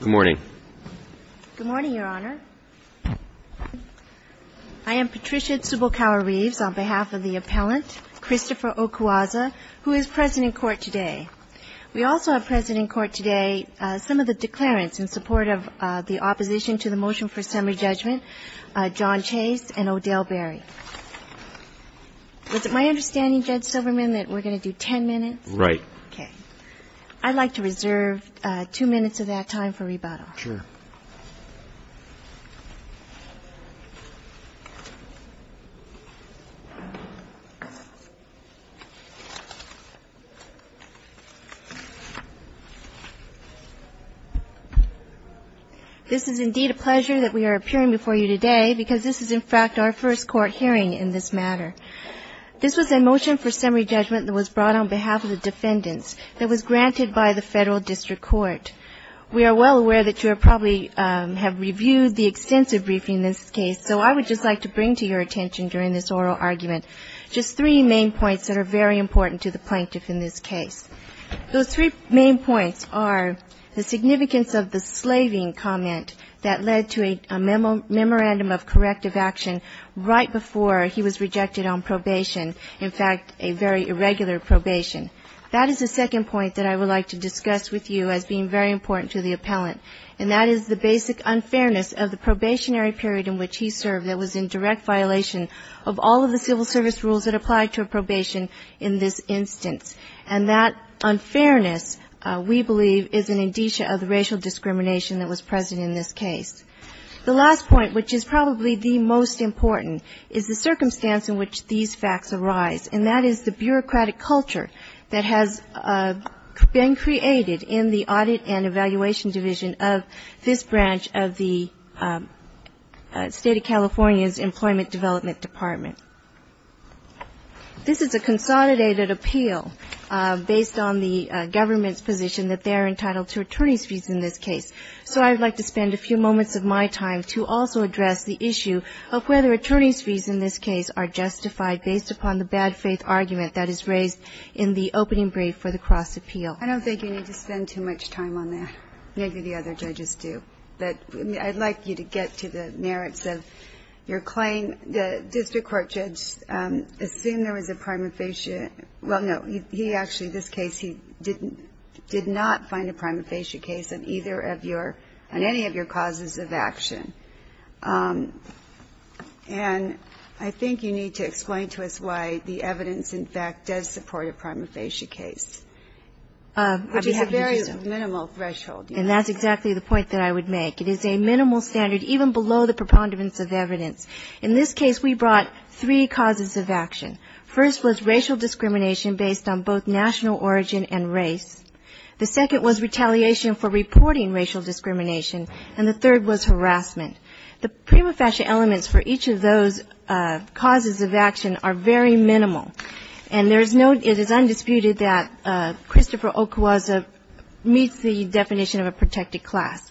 Good morning. Good morning, Your Honor. I am Patricia Tsubokawa-Reeves, on behalf of the appellant, Christopher Okwuosa, who is present in court today. We also have present in court today some of the declarants in support of the opposition to the motion for summary judgment, John Chase and Odell Berry. Was it my understanding, Judge Silverman, that we're going to do 10 minutes? Right. Okay. I'd like to reserve two minutes of that time for rebuttal. Sure. This is indeed a pleasure that we are appearing before you today because this is, in fact, our first court hearing in this matter. This was a motion for summary judgment that was brought on behalf of the defendants that was granted by the Federal District Court. We are well aware that you probably have reviewed the extensive briefing in this case, so I would just like to bring to your attention during this oral argument just three main points that are very important to the plaintiff in this case. Those three main points are the significance of the slaving comment that led to a memorandum of corrective action right before he was rejected on probation, in fact, a very irregular probation. That is the second point that I would like to discuss with you as being very important to the appellant, and that is the basic unfairness of the probationary period in which he served that was in direct violation of all of the civil service rules that apply to a probation in this instance. And that unfairness, we believe, is an indicia of the racial discrimination that was present in this case. The last point, which is probably the most important, is the circumstance in which these facts arise, and that is the bureaucratic culture that has been created in the Audit and Evaluation Division of this branch of the State of California's Employment Development Department. This is a consolidated appeal based on the government's position that they are entitled to attorney's fees in this case. So I would like to spend a few moments of my time to also address the issue of whether attorney's fees in this case are justified based upon the bad faith argument that is raised in the opening brief for the cross-appeal. I don't think you need to spend too much time on that. Maybe the other judges do. But I'd like you to get to the merits of your claim. The district court judge assumed there was a prima facie – well, no. He actually, in this case, he did not find a prima facie case on either of your – on any of your causes of action. And I think you need to explain to us why the evidence, in fact, does support a prima facie case. Which is a very minimal threshold. And that's exactly the point that I would make. It is a minimal standard, even below the preponderance of evidence. In this case, we brought three causes of action. First was racial discrimination based on both national origin and race. The second was retaliation for reporting racial discrimination. And the third was harassment. The prima facie elements for each of those causes of action are very minimal. And there is no – it is undisputed that Christopher Okwuaza meets the definition of a protected class.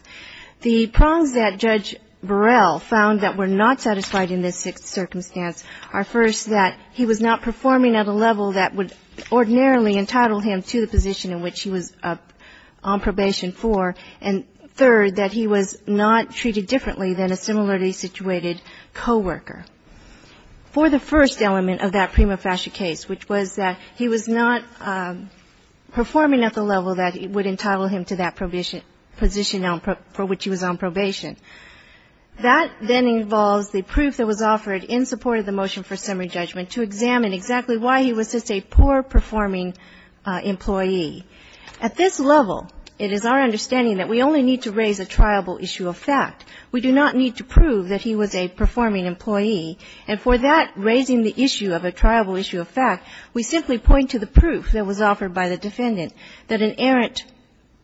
The prongs that Judge Burrell found that were not satisfied in this sixth circumstance are, first, that he was not performing at a level that would ordinarily entitle him to the position in which he was on probation for, and, third, that he was not treated differently than a similarly situated coworker. For the first element of that prima facie case, which was that he was not performing at the level that would entitle him to that position for which he was on probation. That then involves the proof that was offered in support of the motion for summary judgment to examine exactly why he was just a poor-performing employee. At this level, it is our understanding that we only need to raise a triable issue of fact. We do not need to prove that he was a performing employee. And for that, raising the issue of a triable issue of fact, we simply point to the fact that an errant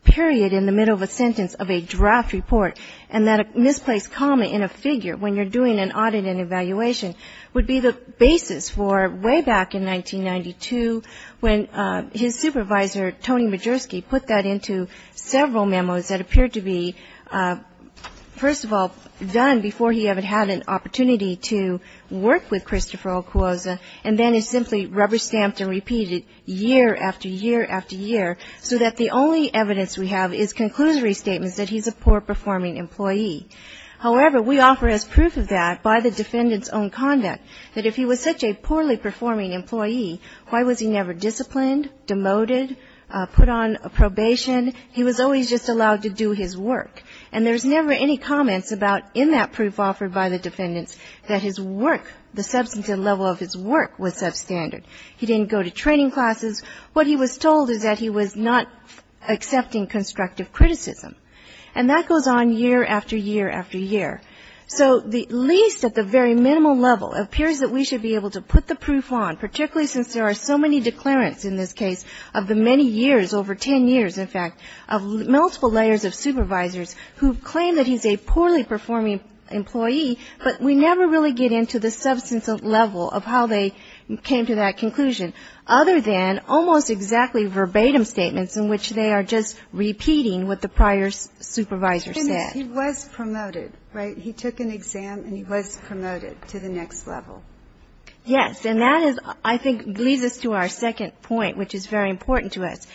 period in the middle of a sentence of a draft report and that a misplaced comma in a figure, when you're doing an audit and evaluation, would be the basis for way back in 1992 when his supervisor, Tony Majerski, put that into several memos that appeared to be, first of all, done before he ever had an opportunity to work with Christopher Okuaza, and then is simply rubber-stamped and repeated year after year after year, so that the only evidence we have is conclusory statements that he's a poor-performing employee. However, we offer as proof of that by the defendant's own conduct, that if he was such a poorly-performing employee, why was he never disciplined, demoted, put on probation? He was always just allowed to do his work. And there's never any comments about in that proof offered by the defendants that his work, the substantive level of his work, was substandard. He didn't go to training classes. What he was told is that he was not accepting constructive criticism. And that goes on year after year after year. So at least at the very minimal level, it appears that we should be able to put the proof on, particularly since there are so many declarants in this case of the many years, over 10 years, in fact, of multiple layers of supervisors who claim that he's a poorly-performing employee, but we never really get into the substantive level of how they came to that conclusion, other than almost exactly verbatim statements in which they are just repeating what the prior supervisor said. He was promoted, right? He took an exam, and he was promoted to the next level. Yes. And that is, I think, leads us to our second point, which is very important to us.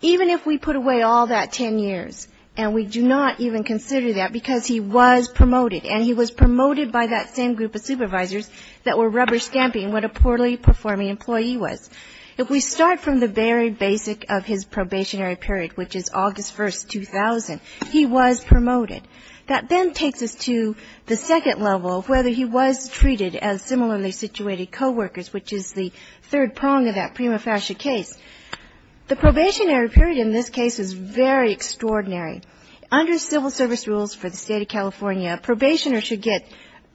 Even if we put away all that 10 years, and we do not even consider that because he was promoted, and he was promoted by that same group of supervisors that were rubber-stamping what a poorly-performing employee was. If we start from the very basic of his probationary period, which is August 1st, 2000, he was promoted. That then takes us to the second level of whether he was treated as similarly-situated coworkers, which is the third prong of that prima facie case. The probationary period in this case is very extraordinary. Under civil service rules for the State of California, a probationer should get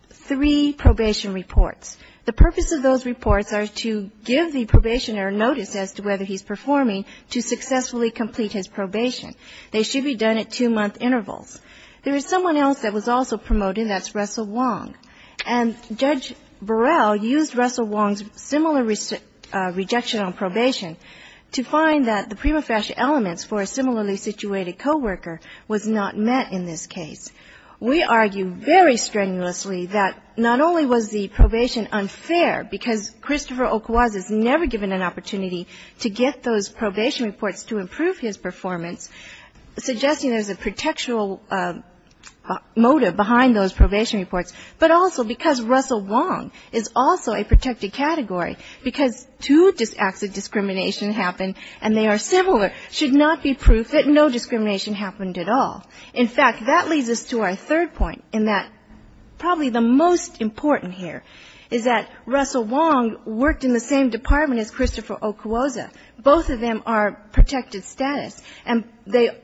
three probation reports. The purpose of those reports are to give the probationer notice as to whether he's performing to successfully complete his probation. They should be done at two-month intervals. There is someone else that was also promoted, and that's Russell Wong. And Judge Burrell used Russell Wong's similar rejection on probation to find that the prima facie elements for a similarly-situated coworker was not met in this case. We argue very strenuously that not only was the probation unfair, because Christopher Okwuaz is never given an opportunity to get those probation reports to improve his performance, suggesting there's a protectural motive behind those probation reports, but also because Russell Wong is also a protected category, because two acts of discrimination happen, and they are similar, should not be proof that no discrimination happened at all. In fact, that leads us to our third point, in that probably the most important here is that Russell Wong worked in the same department as Christopher Okwuaz. Both of them are protected status, and they,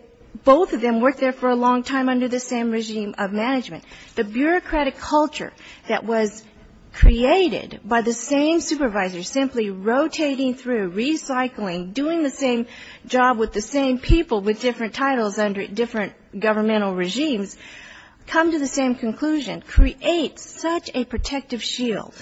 both of them worked there for a long time under the same regime of management. The bureaucratic culture that was created by the same supervisor simply rotating through, recycling, doing the same job with the same people with different titles under different governmental regimes, come to the same conclusion, creates such a protective shield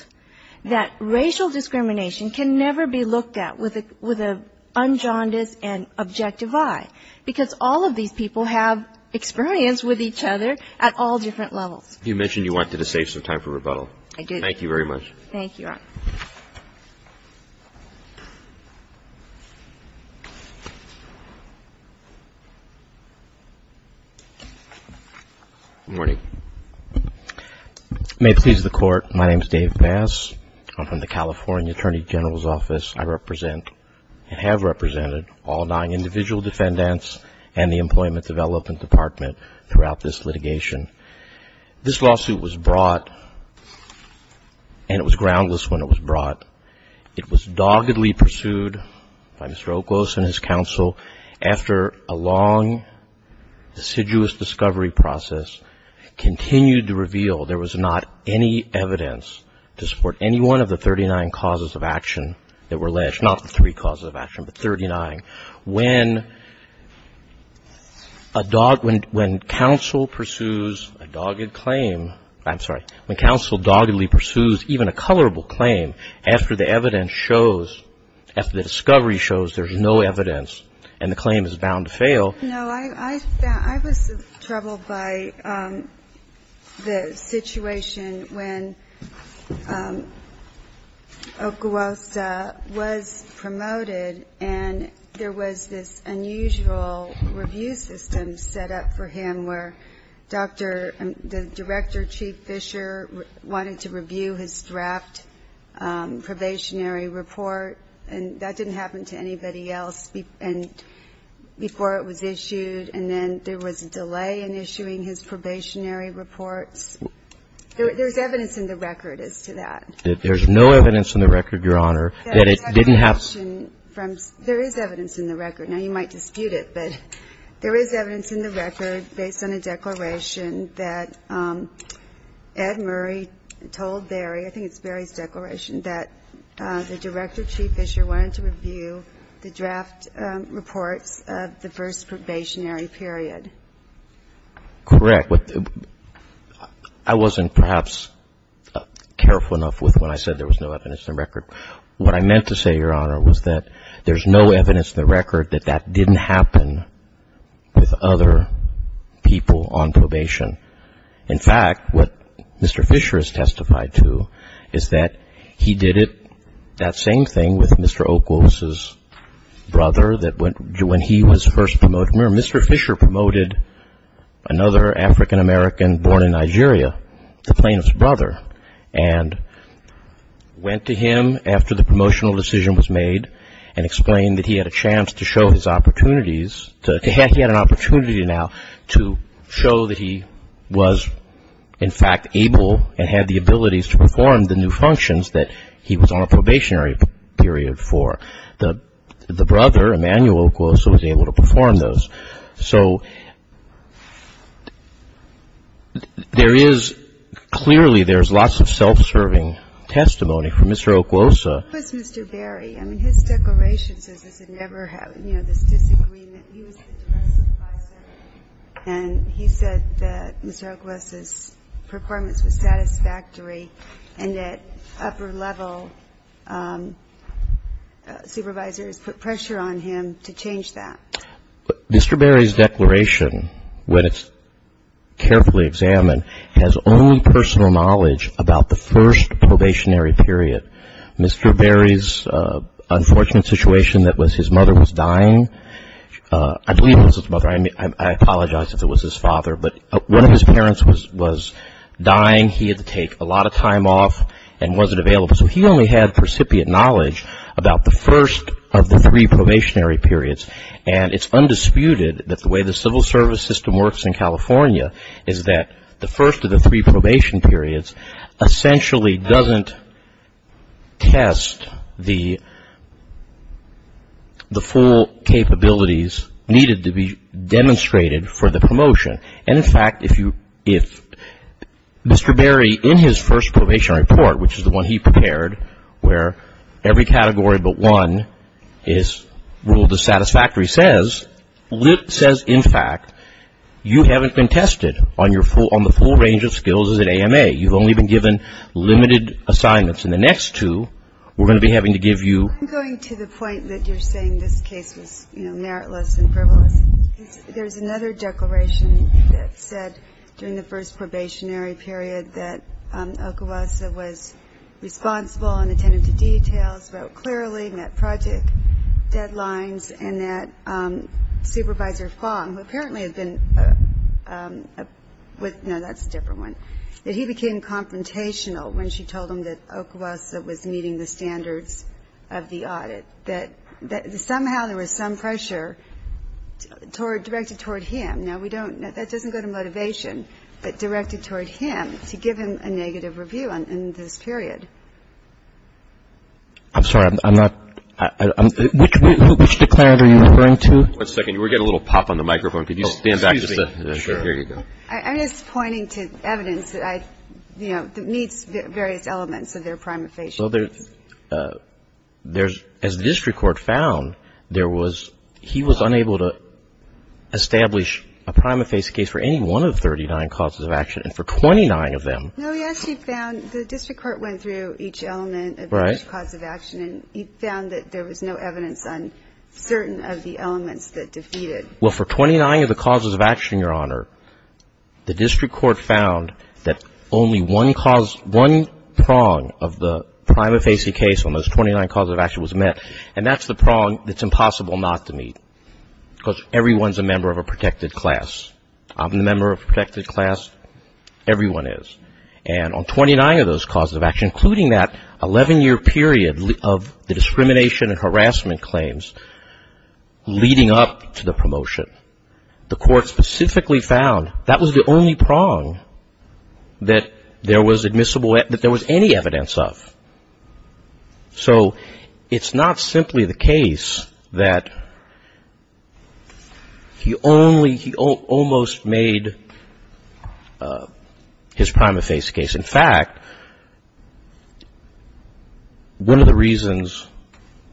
that racial discrimination can never be looked at with an unjaundiced and objective eye, because all of these people have experience with each other at all different levels. You mentioned you went to the States in time for rebuttal. I did. Thank you very much. Thank you, Your Honor. Good morning. May it please the Court, my name is Dave Bass. I'm from the California Attorney General's Office. I represent and have represented all nine individual defendants and the Employment Development Department throughout this litigation. This lawsuit was brought, and it was groundless when it was brought. It was doggedly pursued by Mr. Okwuaz and his counsel after a long, deciduous discovery process continued to reveal there was not any evidence to support any one of the 39 causes of action that were alleged, not the three causes of action, but 39. When counsel pursues a dogged claim, I'm sorry, when counsel doggedly pursues even a colorable claim after the evidence shows, after the discovery shows there's no evidence and the claim is bound to fail. No. I was troubled by the situation when Okwuaz was promoted and there was this unusual review system set up for him where Dr. and the Director Chief Fisher wanted to review his draft probationary report, and that didn't happen to anybody else. And before it was issued and then there was a delay in issuing his probationary reports. There's evidence in the record as to that. There's no evidence in the record, Your Honor, that it didn't have. There is evidence in the record. Now, you might dispute it, but there is evidence in the record based on a declaration that Ed Murray told Barry, I think it's Barry's declaration, that the Director Chief Fisher wanted to review the draft reports of the first probationary period. Correct. I wasn't perhaps careful enough with when I said there was no evidence in the record. What I meant to say, Your Honor, was that there's no evidence in the record that that didn't happen with other people on probation. In fact, what Mr. Fisher has testified to is that he did it, that same thing, with Mr. Okwos's brother that went, when he was first promoted. Remember, Mr. Fisher promoted another African American born in Nigeria, the plaintiff's brother, and went to him after the promotional decision was made and explained that he had a chance to show his opportunities, that he had an opportunity now to show that he was, in fact, able and had the abilities to perform the new functions that he was on a probationary period for. The brother, Emanuel Okwosa, was able to perform those. So there is clearly, there's lots of self-serving testimony from Mr. Okwosa. What was Mr. Berry? I mean, his declaration says he never had, you know, this disagreement. He was the direct supervisor, and he said that Mr. Okwosa's performance was satisfactory and that upper level supervisors put pressure on him to change that. Mr. Berry's declaration, when it's carefully examined, has only personal knowledge about the first probationary period. Mr. Berry's unfortunate situation that was his mother was dying. I believe it was his mother. I apologize if it was his father. But one of his parents was dying. He had to take a lot of time off and wasn't available. So he only had precipient knowledge about the first of the three probationary periods. And it's undisputed that the way the civil service system works in California is that the first of the three probation periods essentially doesn't test the full capabilities needed to be demonstrated for the promotion. And, in fact, if you, if Mr. Berry, in his first probation report, which is the one he prepared, where every category but one is ruled as satisfactory, says, in fact, you haven't been tested on the full range of skills as an AMA. You've only been given limited assignments. And the next two we're going to be having to give you. I'm going to the point that you're saying this case was, you know, meritless and frivolous. There's another declaration that said during the first probationary period that Okwosa was responsible and attentive to details, wrote clearly, met project deadlines, and that Supervisor Fong, who apparently had been with, no, that's a different one, that he became confrontational when she told him that Okwosa was meeting the standards of the audit, that somehow there was some pressure directed toward him. Now, we don't, that doesn't go to motivation, but directed toward him to give him a negative review in this period. I'm sorry. I'm not, which declaration are you referring to? One second. You were getting a little pop on the microphone. Could you stand back just a second? Sure. Here you go. I'm just pointing to evidence that I, you know, that meets various elements of their prima facie. So there's, as the district court found, there was, he was unable to establish a prima facie case for any one of the 39 causes of action, and for 29 of them. No, yes, he found, the district court went through each element of each cause of action. Right. And he found that there was no evidence on certain of the elements that defeated. Well, for 29 of the causes of action, Your Honor, the district court found that only one cause, one prong of the prima facie case on those 29 causes of action was met, and that's the prong that's impossible not to meet, because everyone's a member of a protected class. I'm a member of a protected class. Everyone is. And on 29 of those causes of action, including that 11-year period of the discrimination and harassment claims leading up to the promotion, the court specifically found that was the only prong that there was admissible, that there was any evidence of. So it's not simply the case that he only, he almost made his prima facie case. In fact, one of the reasons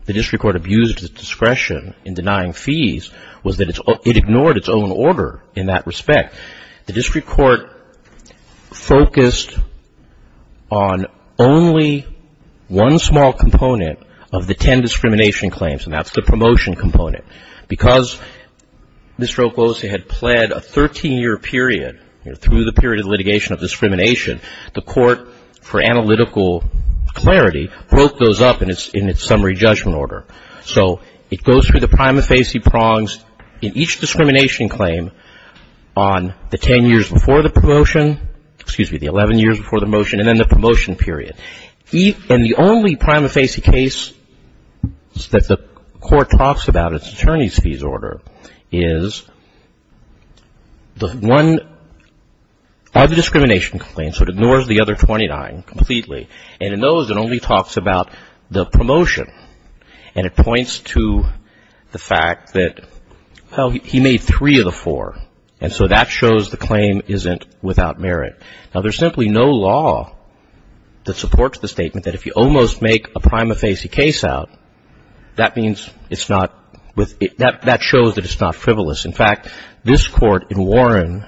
the district court abused his discretion in denying fees was that it's ignored its own order in that respect. The district court focused on only one small component of the 10 discrimination claims, and that's the promotion component. Because Mr. Okose had pled a 13-year period through the period of litigation of discrimination, the court, for analytical clarity, broke those up in its summary judgment order. So it goes through the prima facie prongs in each discrimination claim on the 10 years before the promotion, excuse me, the 11 years before the motion, and then the promotion period. And the only prima facie case that the court talks about, its attorney's fees order, is the one other discrimination claim, so it ignores the other 29 completely, and in those it only talks about the promotion. And it points to the fact that, well, he made three of the four, and so that shows the claim isn't without merit. Now, there's simply no law that supports the statement that if you almost make a prima facie case out, that means it's not, that shows that it's not frivolous. In fact, this Court in Warren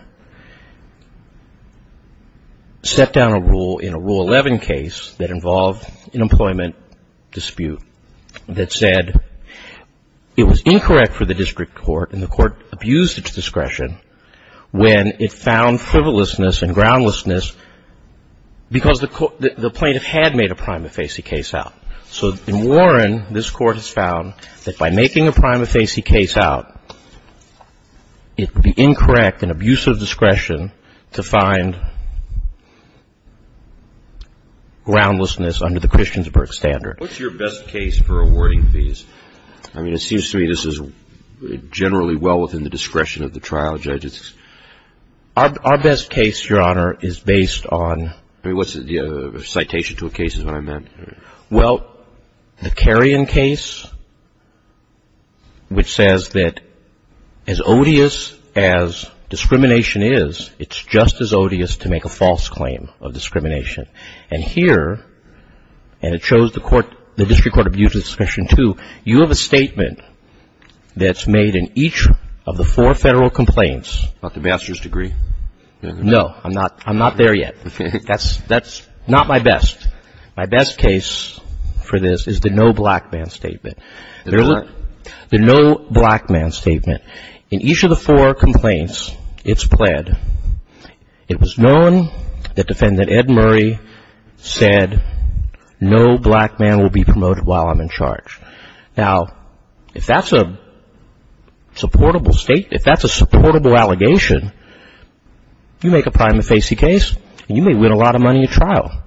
set down a rule in a Rule 11 case that involved an employment dispute. That said it was incorrect for the district court, and the court abused its discretion, when it found frivolousness and groundlessness because the plaintiff had made a prima facie case out. So in Warren, this Court has found that by making a prima facie case out, it would be incorrect and abuse of discretion to find groundlessness under the Christiansburg standard. What's your best case for awarding fees? I mean, it seems to me this is generally well within the discretion of the trial judges. Our best case, Your Honor, is based on... I mean, what's the citation to a case is what I meant. Well, the Carrion case, which says that as odious as discrimination is, it's just as odious to make a false claim of discrimination. And here, and it shows the court, the district court abused its discretion, too. You have a statement that's made in each of the four Federal complaints. About the master's degree? No. I'm not there yet. That's not my best. My best case for this is the no black man statement. The no black man statement. In each of the four complaints, it's pled. It was known that Defendant Ed Murray said, no black man will be promoted while I'm in charge. Now, if that's a supportable state, if that's a supportable allegation, you make a prima facie case and you may win a lot of money at trial.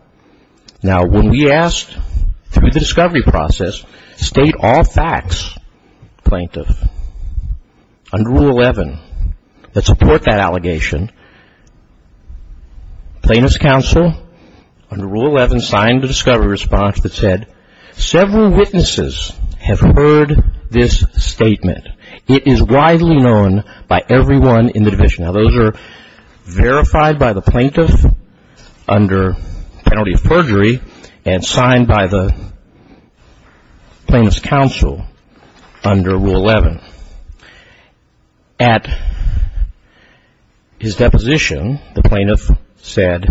Now, when we asked through the discovery process, state all facts, plaintiff, under Rule 11 that support that allegation, plaintiff's counsel under Rule 11 signed a discovery response that said, several witnesses have heard this statement. It is widely known by everyone in the division. Now, those are verified by the plaintiff under penalty of perjury and signed by the plaintiff's counsel under Rule 11. At his deposition, the plaintiff said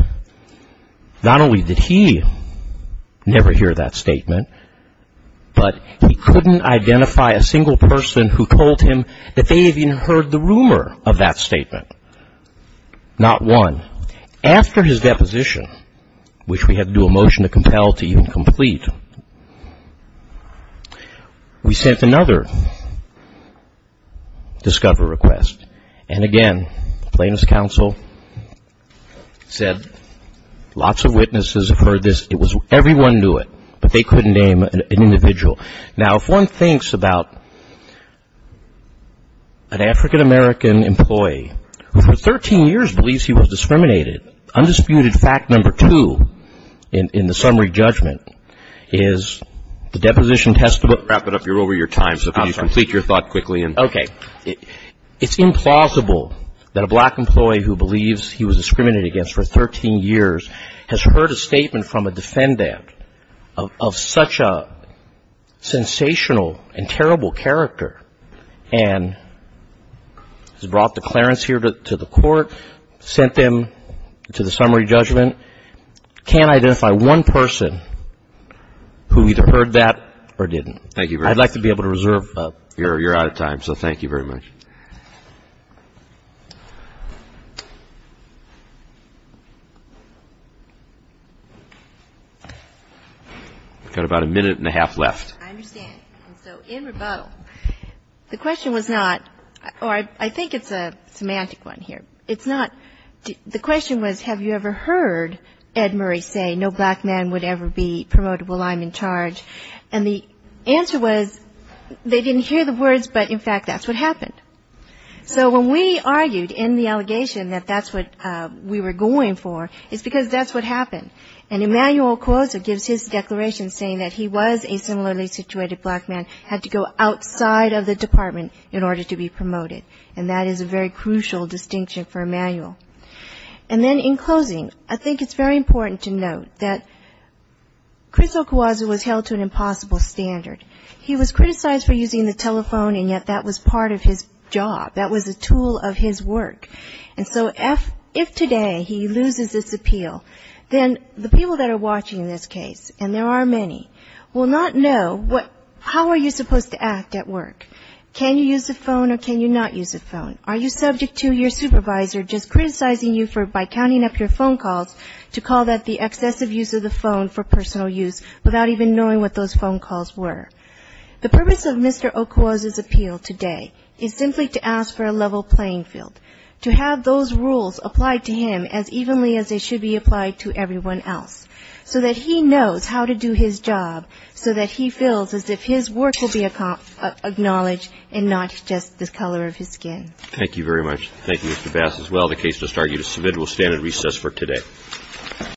not only did he never hear that statement, but he couldn't identify a single person who told him that they even heard the rumor of that statement. Not one. After his deposition, which we had to do a motion to compel to even complete, we sent another discovery request. And again, plaintiff's counsel said lots of witnesses have heard this. It was everyone knew it, but they couldn't name an individual. Now, if one thinks about an African-American employee who for 13 years believes he was discriminated, undisputed fact number two in the summary judgment is the deposition testimony. Wrap it up. You're over your time, so please complete your thought quickly. Okay. It's implausible that a black employee who believes he was discriminated against for 13 years has heard a statement from a defendant of such a sensational and terrible character and has brought declarants here to the court, sent them to the summary judgment, can't identify one person who either heard that or didn't. Thank you very much. I'd like to be able to reserve. You're out of time, so thank you very much. I've got about a minute and a half left. I understand. Okay. So in rebuttal, the question was not or I think it's a semantic one here. It's not. The question was have you ever heard Ed Murray say no black man would ever be promoted while I'm in charge. And the answer was they didn't hear the words, but in fact that's what happened. So when we argued in the allegation that that's what we were going for is because that's what happened. And Emanuel Cuozzo gives his declaration saying that he was a similarly situated black man, had to go outside of the department in order to be promoted. And that is a very crucial distinction for Emanuel. And then in closing, I think it's very important to note that Chris Ocuozzo was held to an impossible standard. He was criticized for using the telephone, and yet that was part of his job. That was a tool of his work. And so if today he loses this appeal, then the people that are watching this case, and there are many, will not know how are you supposed to act at work. Can you use the phone or can you not use the phone? Are you subject to your supervisor just criticizing you by counting up your phone calls to call that the excessive use of the phone for personal use without even knowing what those phone calls were? The purpose of Mr. Ocuozzo's appeal today is simply to ask for a level playing field, to have those rules applied to him as evenly as they should be applied to everyone else, so that he knows how to do his job, so that he feels as if his work will be acknowledged and not just the color of his skin. Thank you very much. Thank you, Mr. Bass, as well. The case does argue to submit. We'll stand at recess for today.